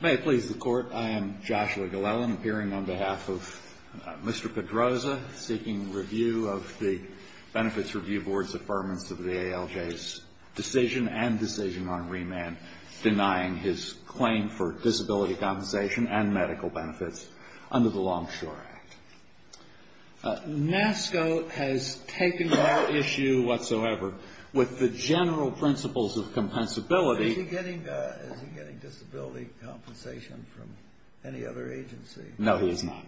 May it please the Court, I am Joshua Glellen, appearing on behalf of Mr. Pedroza, seeking review of the Benefits Review Board's affirmance of the ALJ's decision and decision on remand, denying his claim for disability compensation and medical benefits under the Longshore Act. NASCO has taken no issue whatsoever with the general principles of compensability. Is he getting disability compensation from any other agency? No, he is not.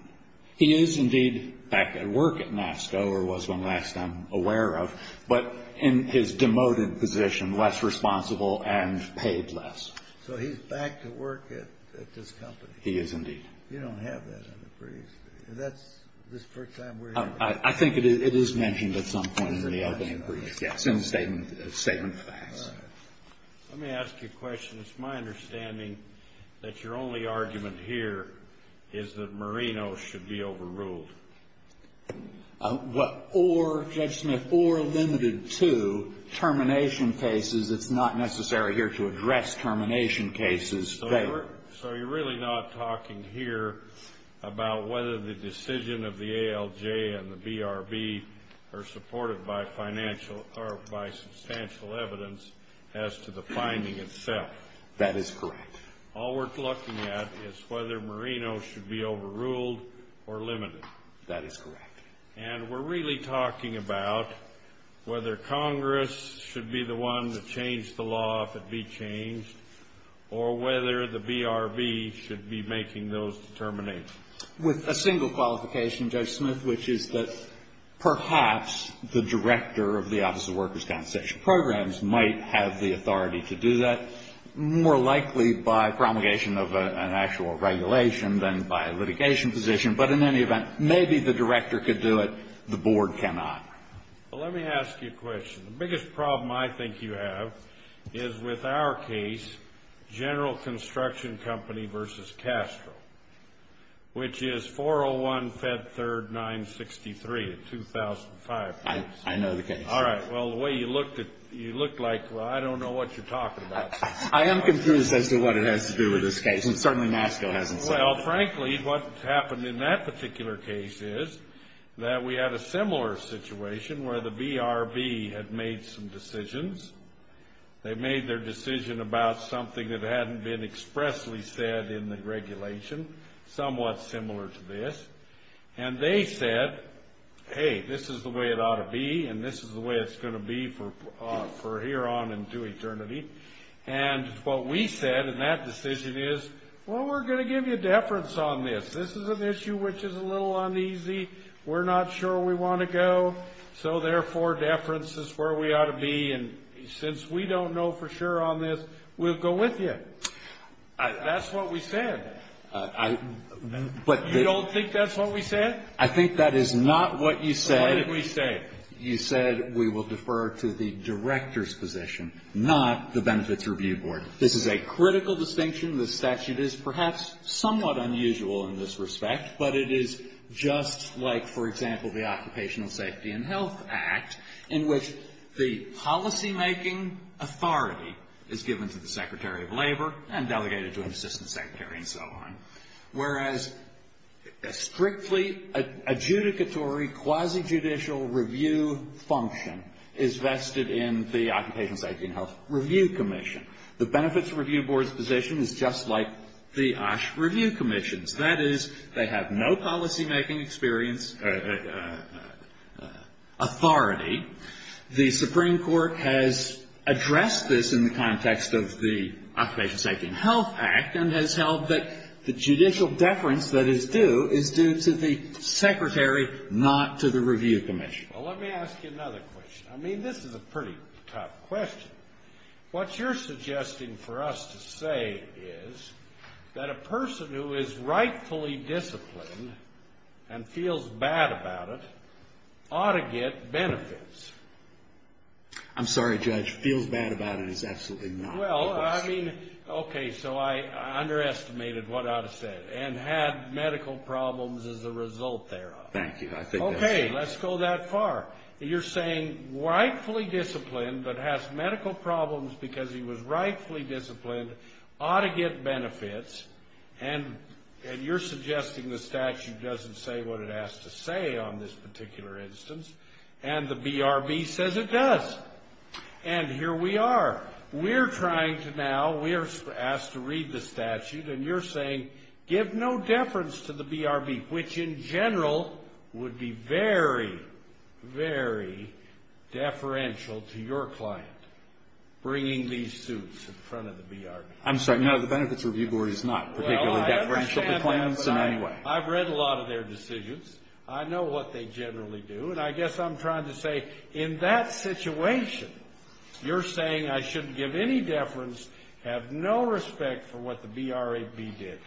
He is, indeed, back at work at NASCO, or was when last I'm aware of, but in his demoted position, less responsible and paid less. So he's back to work at this company? He is, indeed. You don't have that in the briefs? That's the first time we're hearing that? I think it is mentioned at some point in the opening brief, yes, in the statement of facts. All right. Let me ask you a question. It's my understanding that your only argument here is that Marino should be overruled. Or, Judge Smith, or limited to termination cases. It's not necessary here to address termination cases. So you're really not talking here about whether the decision of the ALJ and the BRB are supported by financial or by substantial evidence as to the finding itself? That is correct. All we're looking at is whether Marino should be overruled or limited. That is correct. And we're really talking about whether Congress should be the one to change the law if it be changed or whether the BRB should be making those determinations. With a single qualification, Judge Smith, which is that perhaps the director of the Office of Workers' Compensation Programs might have the authority to do that, more likely by promulgation of an actual regulation than by litigation position. But in any event, maybe the director could do it, the board cannot. Well, let me ask you a question. The biggest problem I think you have is with our case, General Construction Company v. Castro, which is 401-Fed-3rd-963-2005. I know the case. All right. Well, the way you looked at it, you looked like, well, I don't know what you're talking about. I am confused as to what it has to do with this case, and certainly NASCA hasn't said that. Well, frankly, what's happened in that particular case is that we had a similar situation where the BRB had made some decisions. They made their decision about something that hadn't been expressly said in the regulation, somewhat similar to this. And they said, hey, this is the way it ought to be, and this is the way it's going to be for hereon and to eternity. And what we said in that decision is, well, we're going to give you deference on this. This is an issue which is a little uneasy. We're not sure we want to go, so therefore deference is where we ought to be. And since we don't know for sure on this, we'll go with you. That's what we said. You don't think that's what we said? I think that is not what you said. So what did we say? You said we will defer to the Director's position, not the Benefits Review Board. This is a critical distinction. The statute is perhaps somewhat unusual in this respect, but it is just like, for example, the Occupational Safety and Health Act, in which the policymaking authority is given to the Secretary of Labor and delegated to an Assistant Secretary and so on, whereas a strictly adjudicatory quasi-judicial review function is vested in the Occupational Safety and Health Review Commission. The Benefits Review Board's position is just like the OSH Review Commission's. That is, they have no policymaking experience authority. The Supreme Court has addressed this in the context of the Occupational Safety and Health Act and has held that the judicial deference that is due is due to the Secretary, not to the Review Commission. Well, let me ask you another question. I mean, this is a pretty tough question. What you're suggesting for us to say is that a person who is rightfully disciplined and feels bad about it ought to get benefits. I'm sorry, Judge. Feels bad about it is absolutely not the question. Well, I mean, okay, so I underestimated what I ought to say and had medical problems as a result thereof. Thank you. Okay, let's go that far. You're saying rightfully disciplined but has medical problems because he was rightfully disciplined ought to get benefits, and you're suggesting the statute doesn't say what it has to say on this particular instance, and the BRB says it does. And here we are. We're trying to now, we're asked to read the statute, and you're saying give no deference to the BRB, which in general would be very, very deferential to your client bringing these suits in front of the BRB. I'm sorry, no, the Benefits Review Board is not particularly deferential to clients in any way. Well, I understand that, but I've read a lot of their decisions. I know what they generally do. And I guess I'm trying to say in that situation, you're saying I shouldn't give any deference, have no respect for what the BRB did.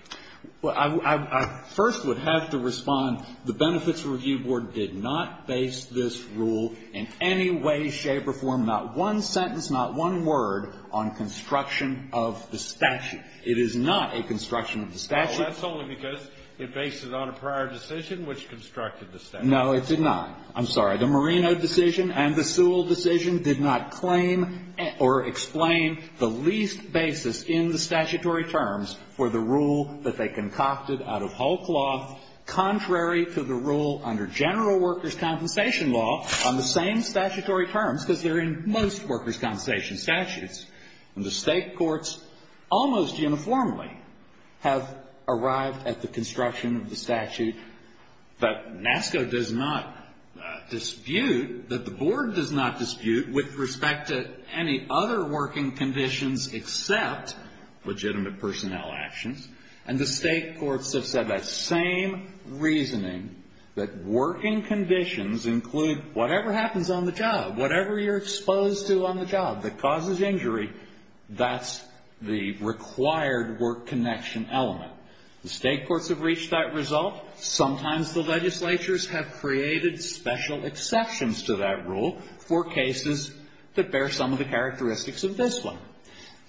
Well, I first would have to respond, the Benefits Review Board did not base this rule in any way, shape, or form, not one sentence, not one word, on construction of the statute. It is not a construction of the statute. Well, that's only because it bases it on a prior decision which constructed the statute. No, it did not. I'm sorry. The Marino decision and the Sewell decision did not claim or explain the least basis in the statutory terms for the rule that they concocted out of whole cloth contrary to the rule under general workers' compensation law on the same statutory terms, because they're in most workers' compensation statutes. And the state courts almost uniformly have arrived at the construction of the statute that NASCO does not dispute, that the board does not dispute with respect to any other working conditions except legitimate personnel actions. And the state courts have said that same reasoning, that working conditions include whatever happens on the job, whatever you're exposed to on the job that causes injury, that's the required work connection element. The state courts have reached that result. Sometimes the legislatures have created special exceptions to that rule for cases that bear some of the characteristics of this one.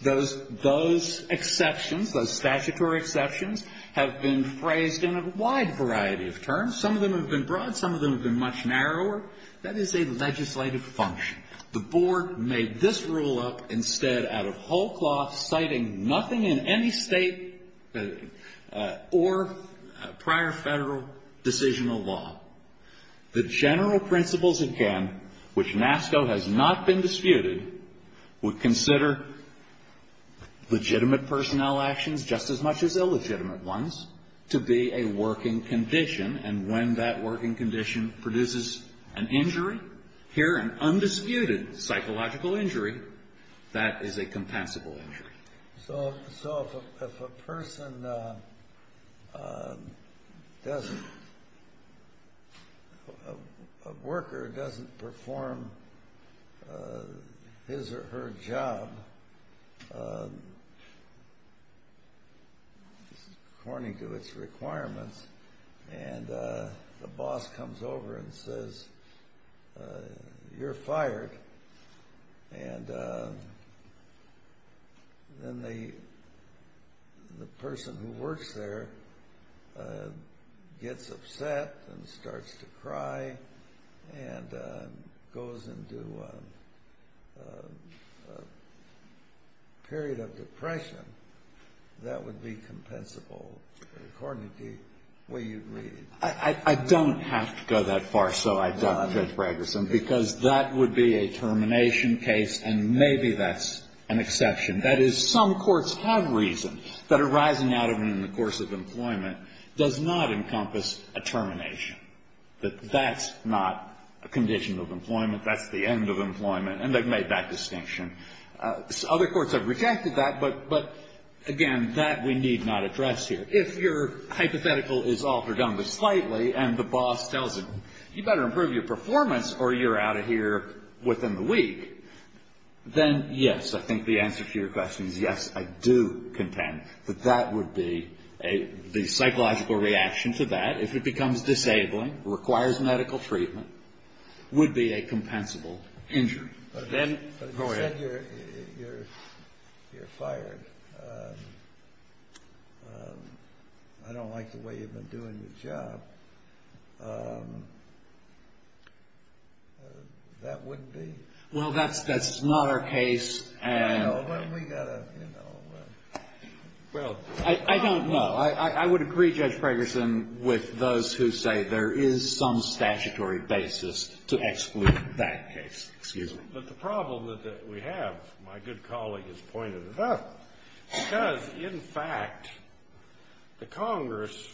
Those exceptions, those statutory exceptions, have been phrased in a wide variety of terms. Some of them have been broad. Some of them have been much narrower. That is a legislative function. The board made this rule up instead out of whole cloth, citing nothing in any state or prior Federal decisional law. The general principles, again, which NASCO has not been disputed, would consider legitimate personnel actions just as much as illegitimate ones to be a working condition. And when that working condition produces an injury, here an undisputed psychological injury, that is a compensable injury. So if a person doesn't, a worker doesn't perform his or her job according to its requirements, and the boss comes over and says, you're fired, and then the person who works there gets upset and starts to cry and goes into a period of depression, that would be compensable according to the way you read it. I don't have to go that far, so I doubt Judge Braggerson, because that would be a termination case, and maybe that's an exception. That is, some courts have reasoned that arising out of and in the course of employment does not encompass a termination, that that's not a condition of employment. That's the end of employment. And they've made that distinction. Other courts have rejected that, but, again, that we need not address here. If your hypothetical is altered on the slightly and the boss tells him, you better improve your performance or you're out of here within the week, then yes, I think the answer to your question is yes, I do contend that that would be a psychological reaction to that. If it becomes disabling, requires medical treatment, would be a compensable injury. Then go ahead. But if you said you're fired, I don't like the way you've been doing your job, that wouldn't be? Well, that's not our case. Well, we've got to, you know, well. I don't know. I would agree, Judge Pregerson, with those who say there is some statutory basis to exclude that case. Excuse me. But the problem that we have, my good colleague has pointed it out, because, in fact, the Congress,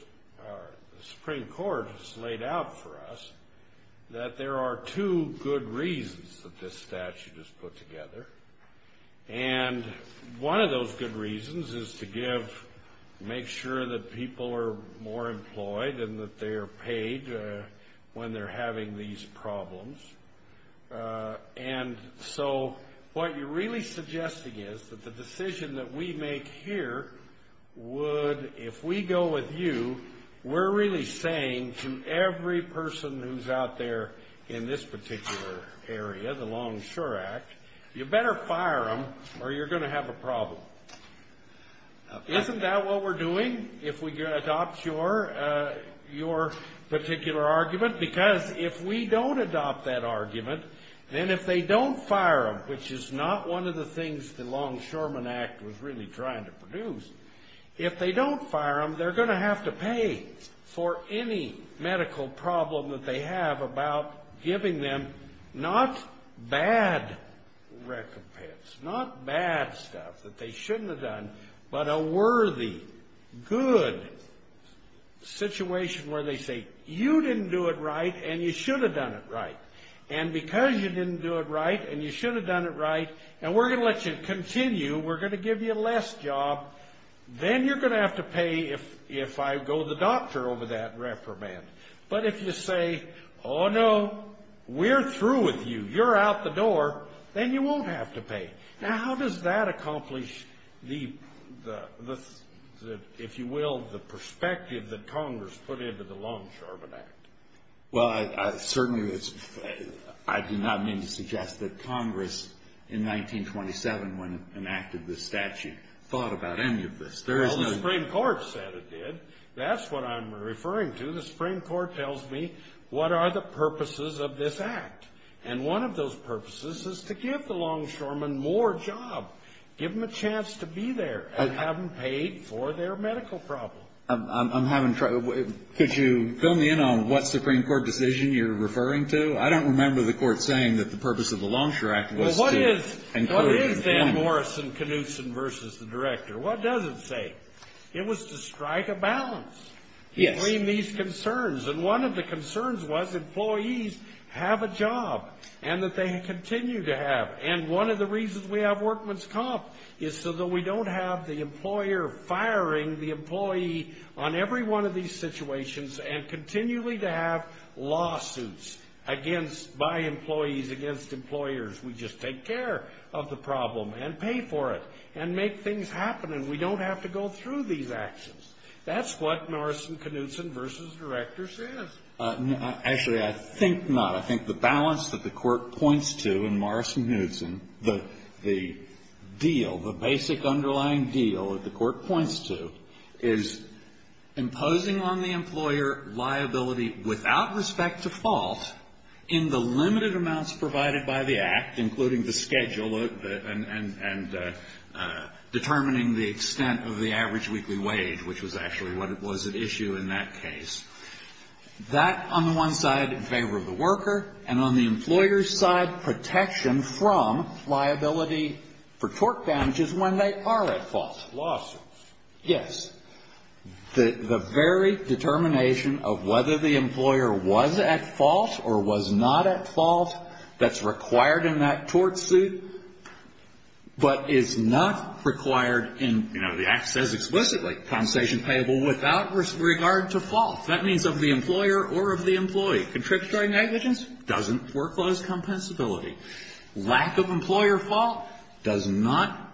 the Supreme Court has laid out for us that there are two good reasons that this statute is put together. And one of those good reasons is to give, make sure that people are more employed and that they are paid when they're having these problems. And so what you're really suggesting is that the decision that we make here would, if we go with you, we're really saying to every person who's out there in this particular area, the Longshore Act, you better fire them or you're going to have a problem. Isn't that what we're doing if we adopt your particular argument? Because if we don't adopt that argument, then if they don't fire them, which is not one of the things the Longshoremen Act was really trying to produce, if they don't fire them, they're going to have to pay for any medical problem that they have about giving them not bad recompense, not bad stuff that they shouldn't have done, but a worthy, good situation where they say, you didn't do it right and you should have done it right. And because you didn't do it right and you should have done it right, and we're going to let you continue, we're going to give you less job, then you're going to have to pay if I go to the doctor over that reprimand. But if you say, oh, no, we're through with you, you're out the door, then you won't have to pay. Now, how does that accomplish the, if you will, the perspective that Congress put into the Longshoremen Act? Well, certainly, I do not mean to suggest that Congress in 1927, when it enacted this statute, thought about any of this. There is no – Well, the Supreme Court said it did. That's what I'm referring to. The Supreme Court tells me what are the purposes of this act. And one of those purposes is to give the longshoremen more job, give them a chance to be there, and have them paid for their medical problem. I'm having trouble. Could you fill me in on what Supreme Court decision you're referring to? I don't remember the court saying that the purpose of the Longshore Act was to encourage employment. Well, what is Dan Morrison-Knudsen versus the director? What does it say? It was to strike a balance between these concerns. And one of the concerns was employees have a job and that they continue to have. And one of the reasons we have workman's comp is so that we don't have the employer firing the employee on every one of these situations and continually to have lawsuits against – by employees against employers. We just take care of the problem and pay for it and make things happen. And we don't have to go through these actions. That's what Morrison-Knudsen versus the director says. Actually, I think not. I think the balance that the court points to in Morrison-Knudsen, the deal, the basic underlying deal that the court points to, is imposing on the employer liability without respect to fault in the limited amounts provided by the act, including the schedule and determining the extent of the average weekly wage, which was actually what was at issue in that case. That on the one side in favor of the worker, and on the employer's side protection from liability for tort damages when they are at fault. Lawsuits. Yes. The very determination of whether the employer was at fault or was not at fault, that's required in that tort suit, but it's not required in, you know, the act says explicitly, compensation payable without regard to fault. That means of the employer or of the employee. Contributory negligence doesn't foreclose compensability. Lack of employer fault does not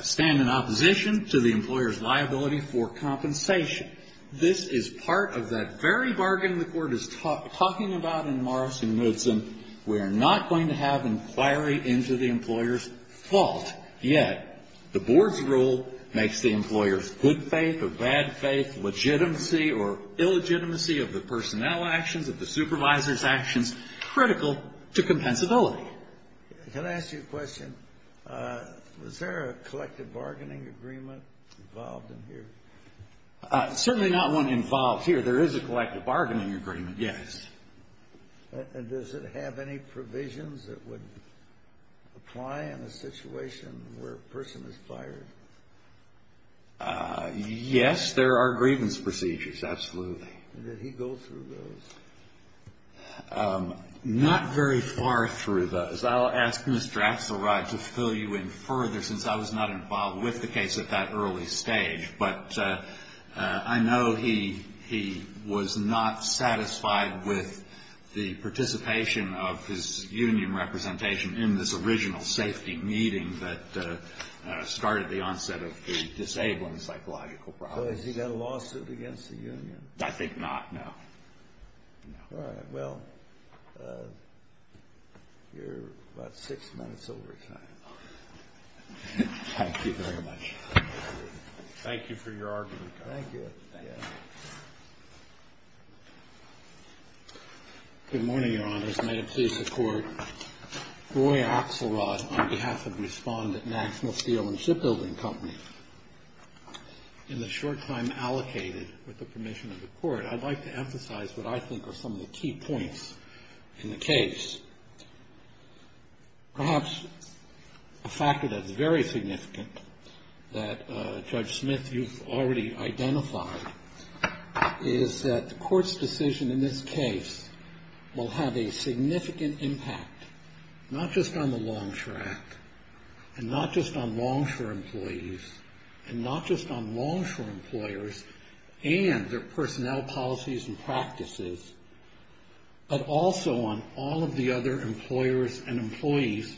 stand in opposition to the employer's liability for compensation. This is part of that very bargain the court is talking about in Morrison-Knudsen. We are not going to have inquiry into the employer's fault, yet the board's rule makes the employer's good faith or bad faith, legitimacy or illegitimacy of the personnel actions, of the supervisor's actions, critical to compensability. Can I ask you a question? Was there a collective bargaining agreement involved in here? Certainly not one involved here. There is a collective bargaining agreement, yes. And does it have any provisions that would apply in a situation where a person is fired? Yes, there are grievance procedures, absolutely. Did he go through those? Not very far through those. I'll ask Mr. Axelrod to fill you in further since I was not involved with the case at that early stage, but I know he was not satisfied with the participation of his union representation in this original safety meeting that started the onset of the disabling psychological problems. Has he got a lawsuit against the union? I think not, no. All right. Well, you're about six minutes overtime. Thank you very much. Thank you for your argument. Thank you. Good morning, Your Honors. May it please the Court. Roy Axelrod on behalf of Respondent National Steel and Shipbuilding Company. In the short time allocated with the permission of the Court, I'd like to emphasize what I think are some of the key points in the case. Perhaps a factor that's very significant that, Judge Smith, you've already identified, is that the Court's decision in this case will have a significant impact, not just on the Longshore Act and not just on Longshore employees and not just on Longshore employers and their personnel policies and practices, but also on all of the other employers and employees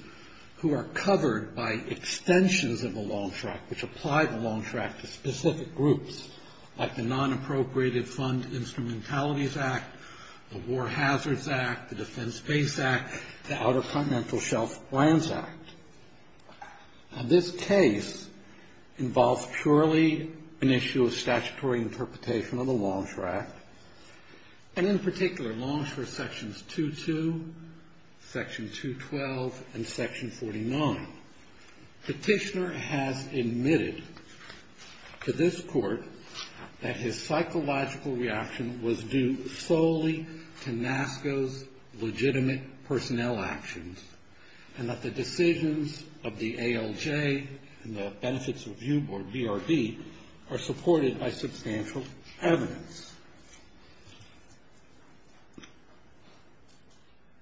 who are covered by extensions of the Longshore Act, which apply the Longshore Act to specific groups, like the Non-Appropriated Fund Instrumentalities Act, the War Hazards Act, the Defense Base Act, the Outer Continental Shelf Grants Act. Now, this case involves purely an issue of statutory interpretation of the Longshore Act, and in particular Longshore Sections 2-2, Section 2-12, and Section 49. Petitioner has admitted to this Court that his psychological reaction was due solely to NASCO's legitimate personnel actions and that the decisions of the ALJ and the Benefits Review Board, BRB, are supported by substantial evidence.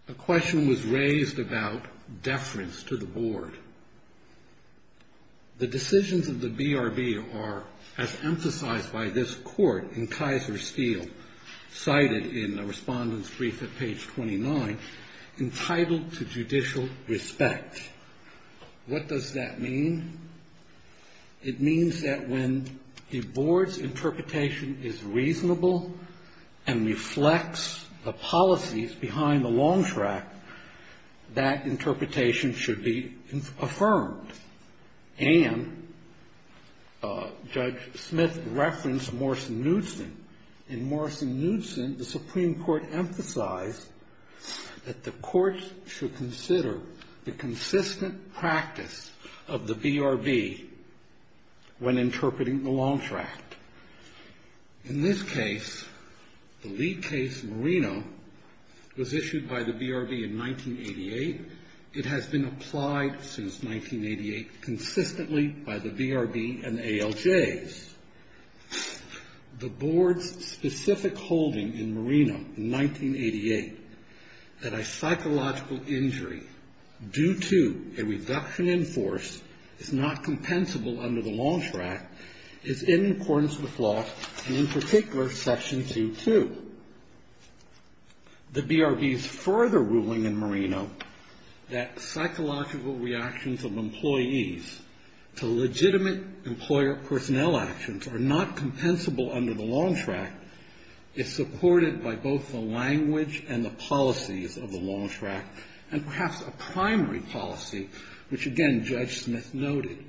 A question was raised about deference to the Board. The decisions of the BRB are, as emphasized by this Court in Kaiser Steel, cited in the Respondent's Brief at page 29, entitled to judicial respect. What does that mean? It means that when the Board's interpretation is reasonable and reflects the policies behind the Longshore Act, that interpretation should be affirmed. And Judge Smith referenced Morrison-Newson. In Morrison-Newson, the Supreme Court emphasized that the courts should consider the consistent practice of the BRB when interpreting the Longshore Act. In this case, the lead case, Marino, was issued by the BRB in 1988. It has been applied since 1988 consistently by the BRB and ALJs. The Board's specific holding in Marino in 1988 that a psychological injury due to a reduction in force is not compensable under the Longshore Act is in accordance with law, and in particular, Section 2-2. The BRB's further ruling in Marino that psychological reactions of employees to legitimate employer personnel actions are not compensable under the Longshore Act is supported by both the language and the policies of the Longshore Act, and perhaps a primary policy, which again Judge Smith noted,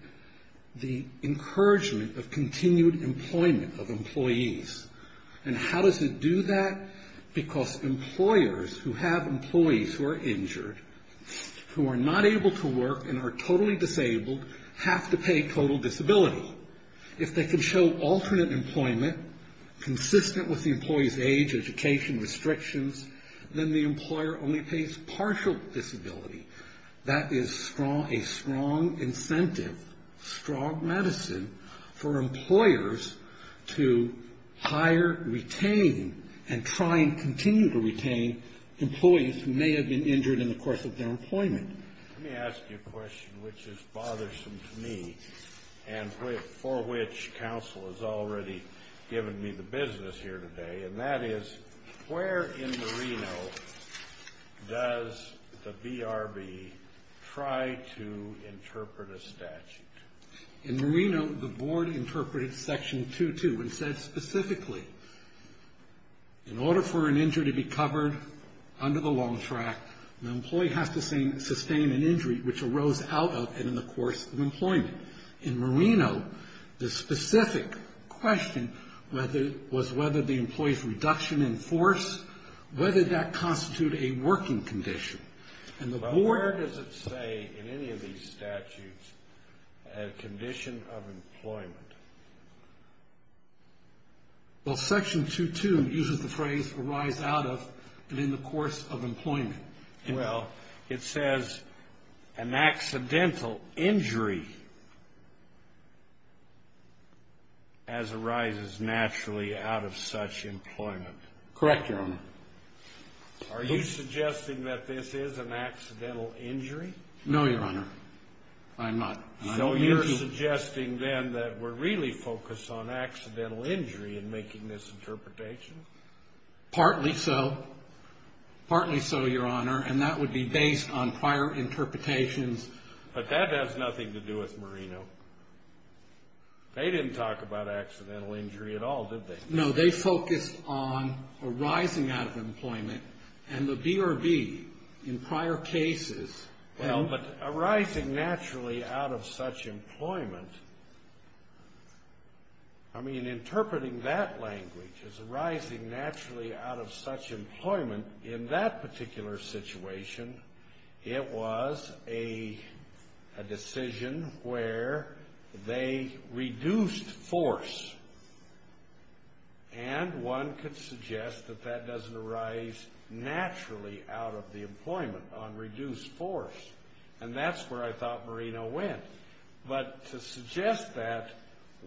the encouragement of continued employment of employees. And how does it do that? Because employers who have employees who are injured, who are not able to work and are totally disabled, have to pay total disability. If they can show alternate employment, consistent with the employee's age, education, restrictions, then the employer only pays partial disability. That is a strong incentive, strong medicine, for employers to hire, retain, and try and continue to retain employees who may have been injured in the course of their employment. Let me ask you a question which is bothersome to me, and for which counsel has already given me the business here today, and that is, where in Marino does the BRB try to interpret a statute? In Marino, the board interpreted Section 2-2 and said specifically, in order for an injury to be covered under the Long Track, the employee has to sustain an injury which arose out of and in the course of employment. In Marino, the specific question was whether the employee's reduction in force, whether that constituted a working condition. Well, where does it say in any of these statutes a condition of employment? Well, Section 2-2 uses the phrase, Well, it says an accidental injury as arises naturally out of such employment. Correct, Your Honor. Are you suggesting that this is an accidental injury? No, Your Honor. I'm not. So you're suggesting then that we're really focused on accidental injury in making this interpretation? Partly so. Partly so, Your Honor, and that would be based on prior interpretations. But that has nothing to do with Marino. They didn't talk about accidental injury at all, did they? No, they focused on arising out of employment, and the BRB, in prior cases, Well, but arising naturally out of such employment, I mean, interpreting that language as arising naturally out of such employment, in that particular situation, it was a decision where they reduced force. And one could suggest that that doesn't arise naturally out of the employment, on reduced force. And that's where I thought Marino went. But to suggest that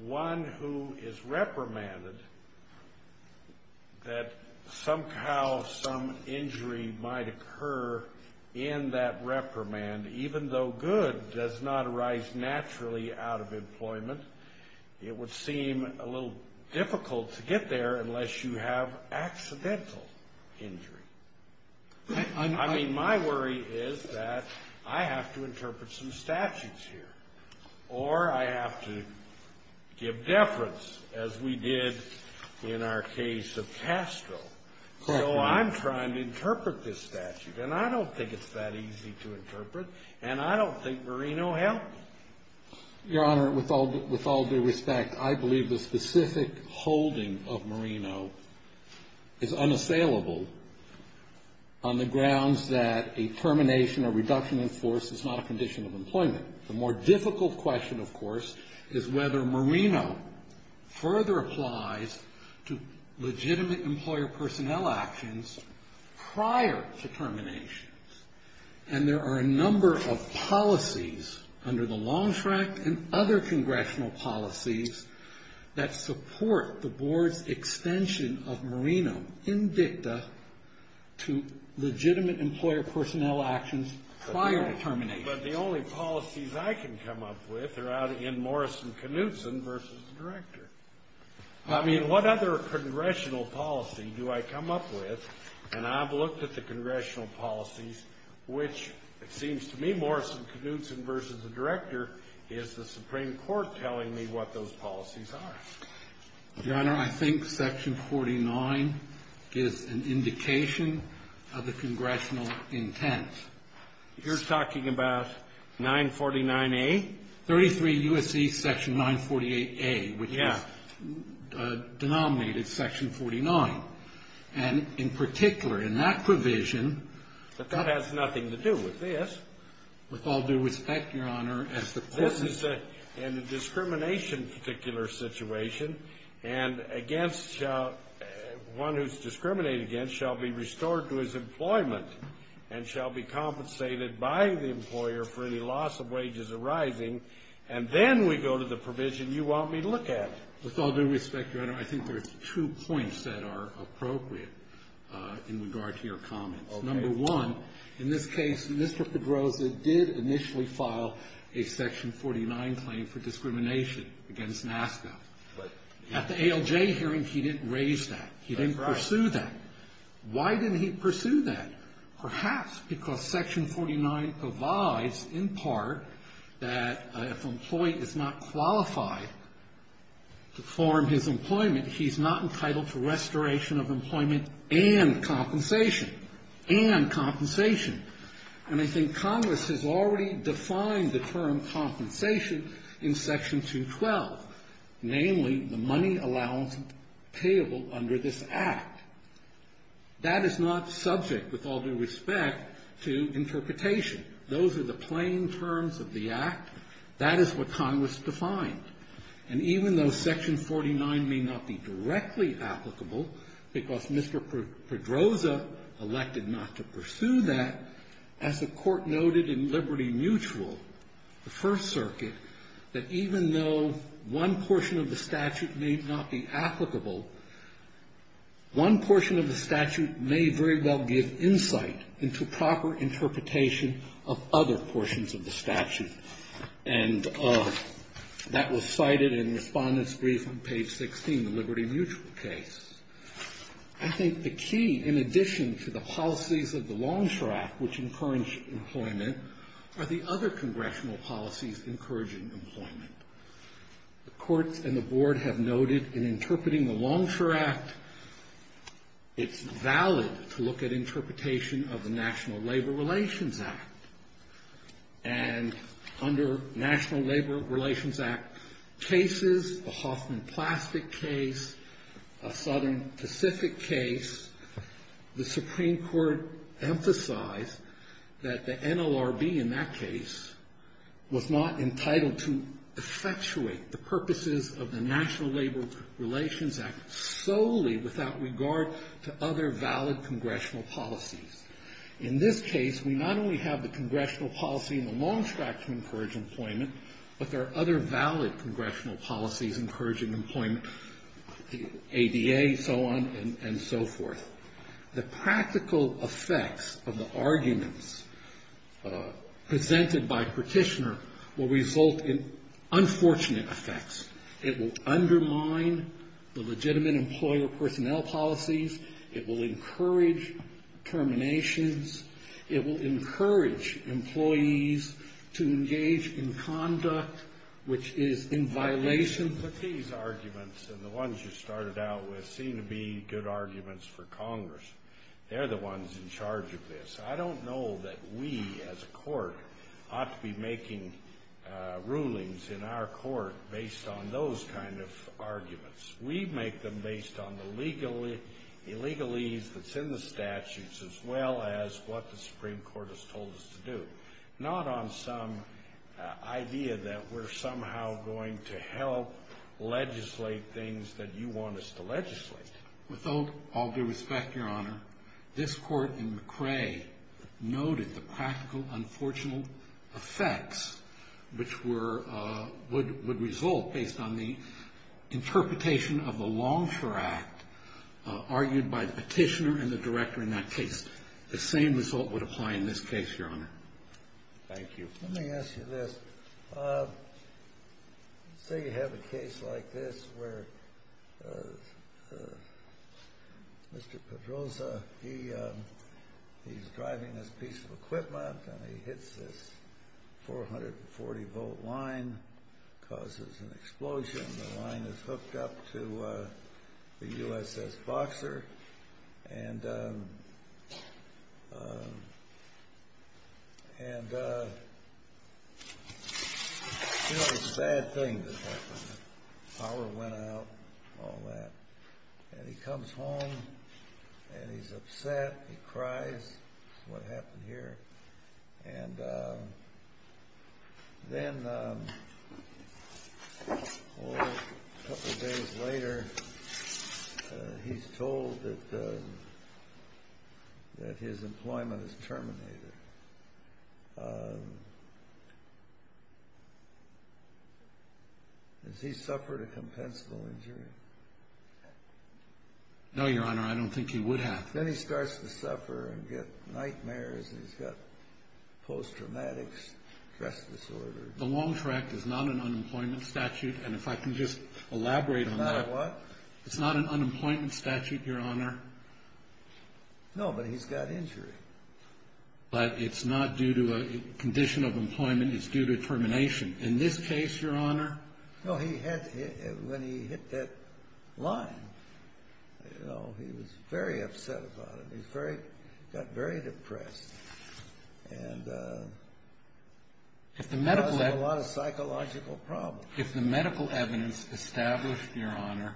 one who is reprimanded, that somehow some injury might occur in that reprimand, even though good does not arise naturally out of employment, it would seem a little difficult to get there unless you have accidental injury. I mean, my worry is that I have to interpret some statutes here, or I have to give deference, as we did in our case of Castro. So I'm trying to interpret this statute, and I don't think it's that easy to interpret, and I don't think Marino helped. Your Honor, with all due respect, I believe the specific holding of Marino is unassailable on the grounds that a termination or reduction in force is not a condition of employment. The more difficult question, of course, is whether Marino further applies to legitimate employer personnel actions prior to termination. And there are a number of policies under the Longstrike and other congressional policies that support the board's extension of Marino in dicta to legitimate employer personnel actions prior to termination. But the only policies I can come up with are out in Morrison-Knudsen versus the director. I mean, what other congressional policy do I come up with? And I've looked at the congressional policies, which, it seems to me, Morrison-Knudsen versus the director is the Supreme Court telling me what those policies are. Your Honor, I think Section 49 gives an indication of the congressional intent. You're talking about 949A? 33 U.S.C. Section 948A, which is denominated Section 49. And in particular, in that provision, But that has nothing to do with this. With all due respect, Your Honor, as the court has said, This is in a discrimination-particular situation. And against one who's discriminated against shall be restored to his employment and shall be compensated by the employer for any loss of wages arising. And then we go to the provision you want me to look at. With all due respect, Your Honor, I think there's two points that are appropriate in regard to your comments. Number one, in this case, Mr. Pedroza did initially file a Section 49 claim for discrimination against NASCA. At the ALJ hearing, he didn't raise that. He didn't pursue that. Why didn't he pursue that? Perhaps because Section 49 provides, in part, that if an employee is not qualified to form his employment, he's not entitled to restoration of employment and compensation. And compensation. And I think Congress has already defined the term compensation in Section 212. Namely, the money allowance payable under this Act. That is not subject, with all due respect, to interpretation. Those are the plain terms of the Act. That is what Congress defined. And even though Section 49 may not be directly applicable because Mr. Pedroza elected not to pursue that, as the Court noted in Liberty Mutual, the First Circuit, that even though one portion of the statute may not be applicable, one portion of the statute may very well give insight into proper interpretation of other portions of the statute. And that was cited in Respondent's Brief on page 16, the Liberty Mutual case. I think the key, in addition to the policies of the Longstrap, which encourage employment, are the other Congressional policies encouraging employment. The courts and the board have noted in interpreting the Longstrap Act, it's valid to look at interpretation of the National Labor Relations Act. And under National Labor Relations Act cases, the Hoffman Plastic case, a Southern Pacific case, the Supreme Court emphasized that the NLRB in that case was not entitled to effectuate the purposes of the National Labor Relations Act solely without regard to other valid Congressional policies. In this case, we not only have the Congressional policy in the Longstrap to encourage employment, but there are other valid Congressional policies encouraging employment, ADA, so on and so forth. The practical effects of the arguments presented by Petitioner will result in unfortunate effects. It will undermine the legitimate employer personnel policies. It will encourage terminations. It will encourage employees to engage in conduct which is in violation. These arguments and the ones you started out with seem to be good arguments for Congress. They're the ones in charge of this. I don't know that we as a court ought to be making rulings in our court based on those kind of arguments. We make them based on the legalese that's in the statutes as well as what the Supreme Court has told us to do, not on some idea that we're somehow going to help legislate things that you want us to legislate. With all due respect, Your Honor, this Court in McRae noted the practical, unfortunate effects which would result based on the interpretation of the Longstrap Act Thank you. Let me ask you this. Say you have a case like this where Mr. Pedroza, he's driving his piece of equipment and he hits this 440-volt line, causes an explosion. The line is hooked up to the USS Boxer. And, you know, it's a bad thing. The power went out, all that. And he comes home and he's upset. He cries. This is what happened here. And then a couple of days later, he's told that his employment is terminated. Has he suffered a compensable injury? No, Your Honor, I don't think he would have. Then he starts to suffer and get nightmares. He's got post-traumatic stress disorder. The Longstrap Act is not an unemployment statute. And if I can just elaborate on that. It's not a what? It's not an unemployment statute, Your Honor. No, but he's got injury. But it's not due to a condition of employment. It's due to termination. In this case, Your Honor. No, when he hit that line, you know, he was very upset about it. He got very depressed. And caused a lot of psychological problems. If the medical evidence established, Your Honor,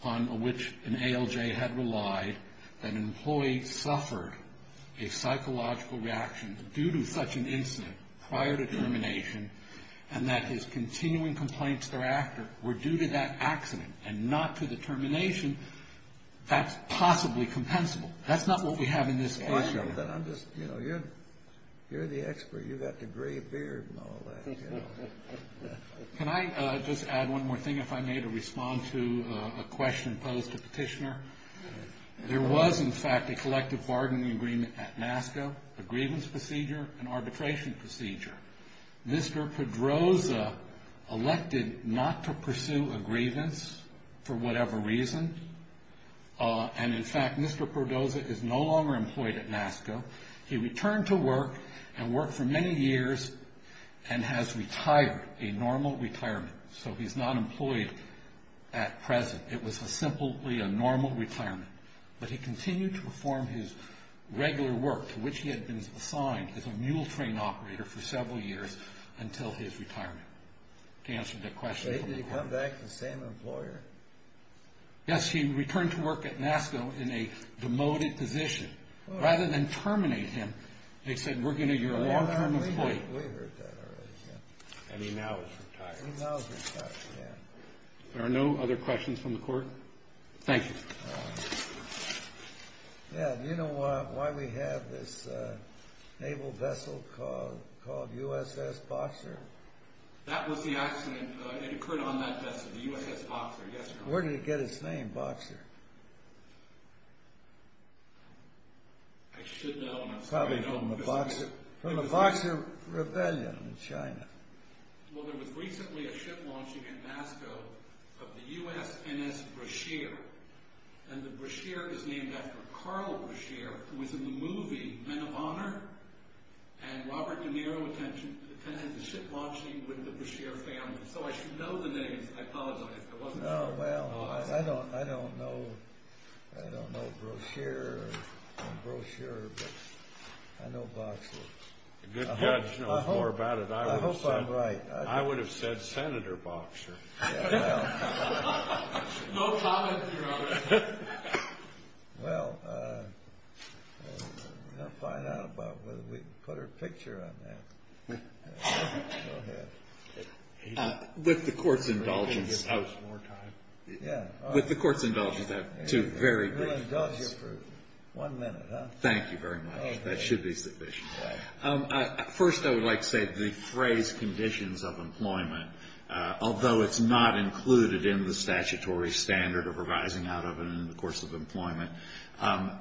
upon which an ALJ had relied, that an employee suffered a psychological reaction due to such an incident prior to termination, and that his continuing complaints thereafter were due to that accident and not to the termination, that's possibly compensable. That's not what we have in this case. But I'm just, you know, you're the expert. You've got the gray beard and all that. Can I just add one more thing, if I may, to respond to a question posed to Petitioner? There was, in fact, a collective bargaining agreement at NASCO, a grievance procedure, an arbitration procedure. Mr. Pedroza elected not to pursue a grievance for whatever reason. And, in fact, Mr. Pedroza is no longer employed at NASCO. He returned to work and worked for many years and has retired, a normal retirement. So he's not employed at present. It was simply a normal retirement. But he continued to perform his regular work, to which he had been assigned as a mule train operator for several years, until his retirement, to answer the question from the court. Wait, did he come back the same employer? Yes, he returned to work at NASCO in a demoted position. Rather than terminate him, they said, we're going to get a long-term employee. We heard that already, yeah. And he now is retired. He now is retired, yeah. There are no other questions from the court? Thank you. Yeah, do you know why we have this naval vessel called USS Boxer? That was the accident. It occurred on that vessel, the USS Boxer, yesterday. Where did it get its name, Boxer? I should know, and I'm sorry I don't. Probably from the Boxer Rebellion in China. Well, there was recently a ship launching at NASCO of the USNS Brashear. And the Brashear is named after Carl Brashear, who was in the movie Men of Honor. And Robert De Niro attended the ship launching with the Brashear family. So I should know the names. I apologize. No, well, I don't know. I don't know Brashear or brochure, but I know Boxer. If a good judge knows more about it, I would have said Senator Boxer. No comment here on that. Well, we're going to find out about whether we can put a picture on that. Go ahead. With the court's indulgence. Yeah. With the court's indulgence, I have two very brief questions. We'll indulge you for one minute, huh? Thank you very much. That should be sufficient. First, I would like to say the phrase conditions of employment, although it's not included in the statutory standard of revising out of it in the course of employment,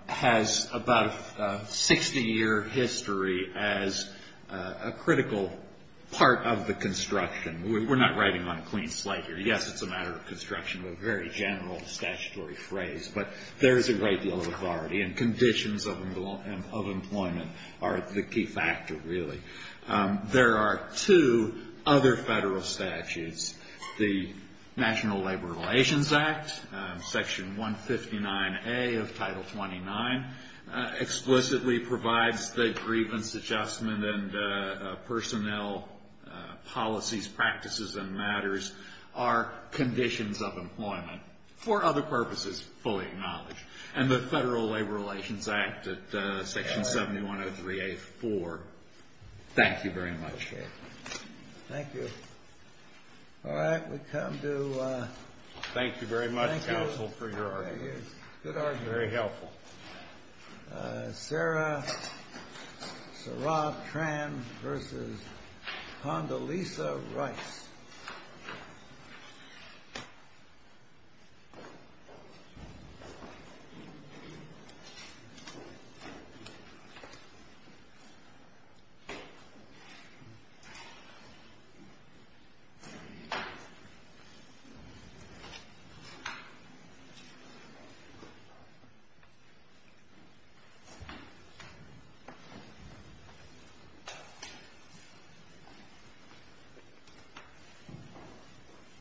has about a 60-year history as a critical part of the construction. We're not writing on a clean slate here. Yes, it's a matter of construction, a very general statutory phrase. But there is a great deal of authority, and conditions of employment are the key factor, really. There are two other federal statutes. The National Labor Relations Act, Section 159A of Title 29, explicitly provides that grievance adjustment and personnel policies, practices, and matters are conditions of employment for other purposes fully acknowledged. And the Federal Labor Relations Act at Section 7103A-4. Thank you very much. Thank you. All right, we come to ‑‑ Thank you very much, counsel, for your argument. Good argument. Very helpful. Sarah Tran versus Condoleezza Rice. Thank you.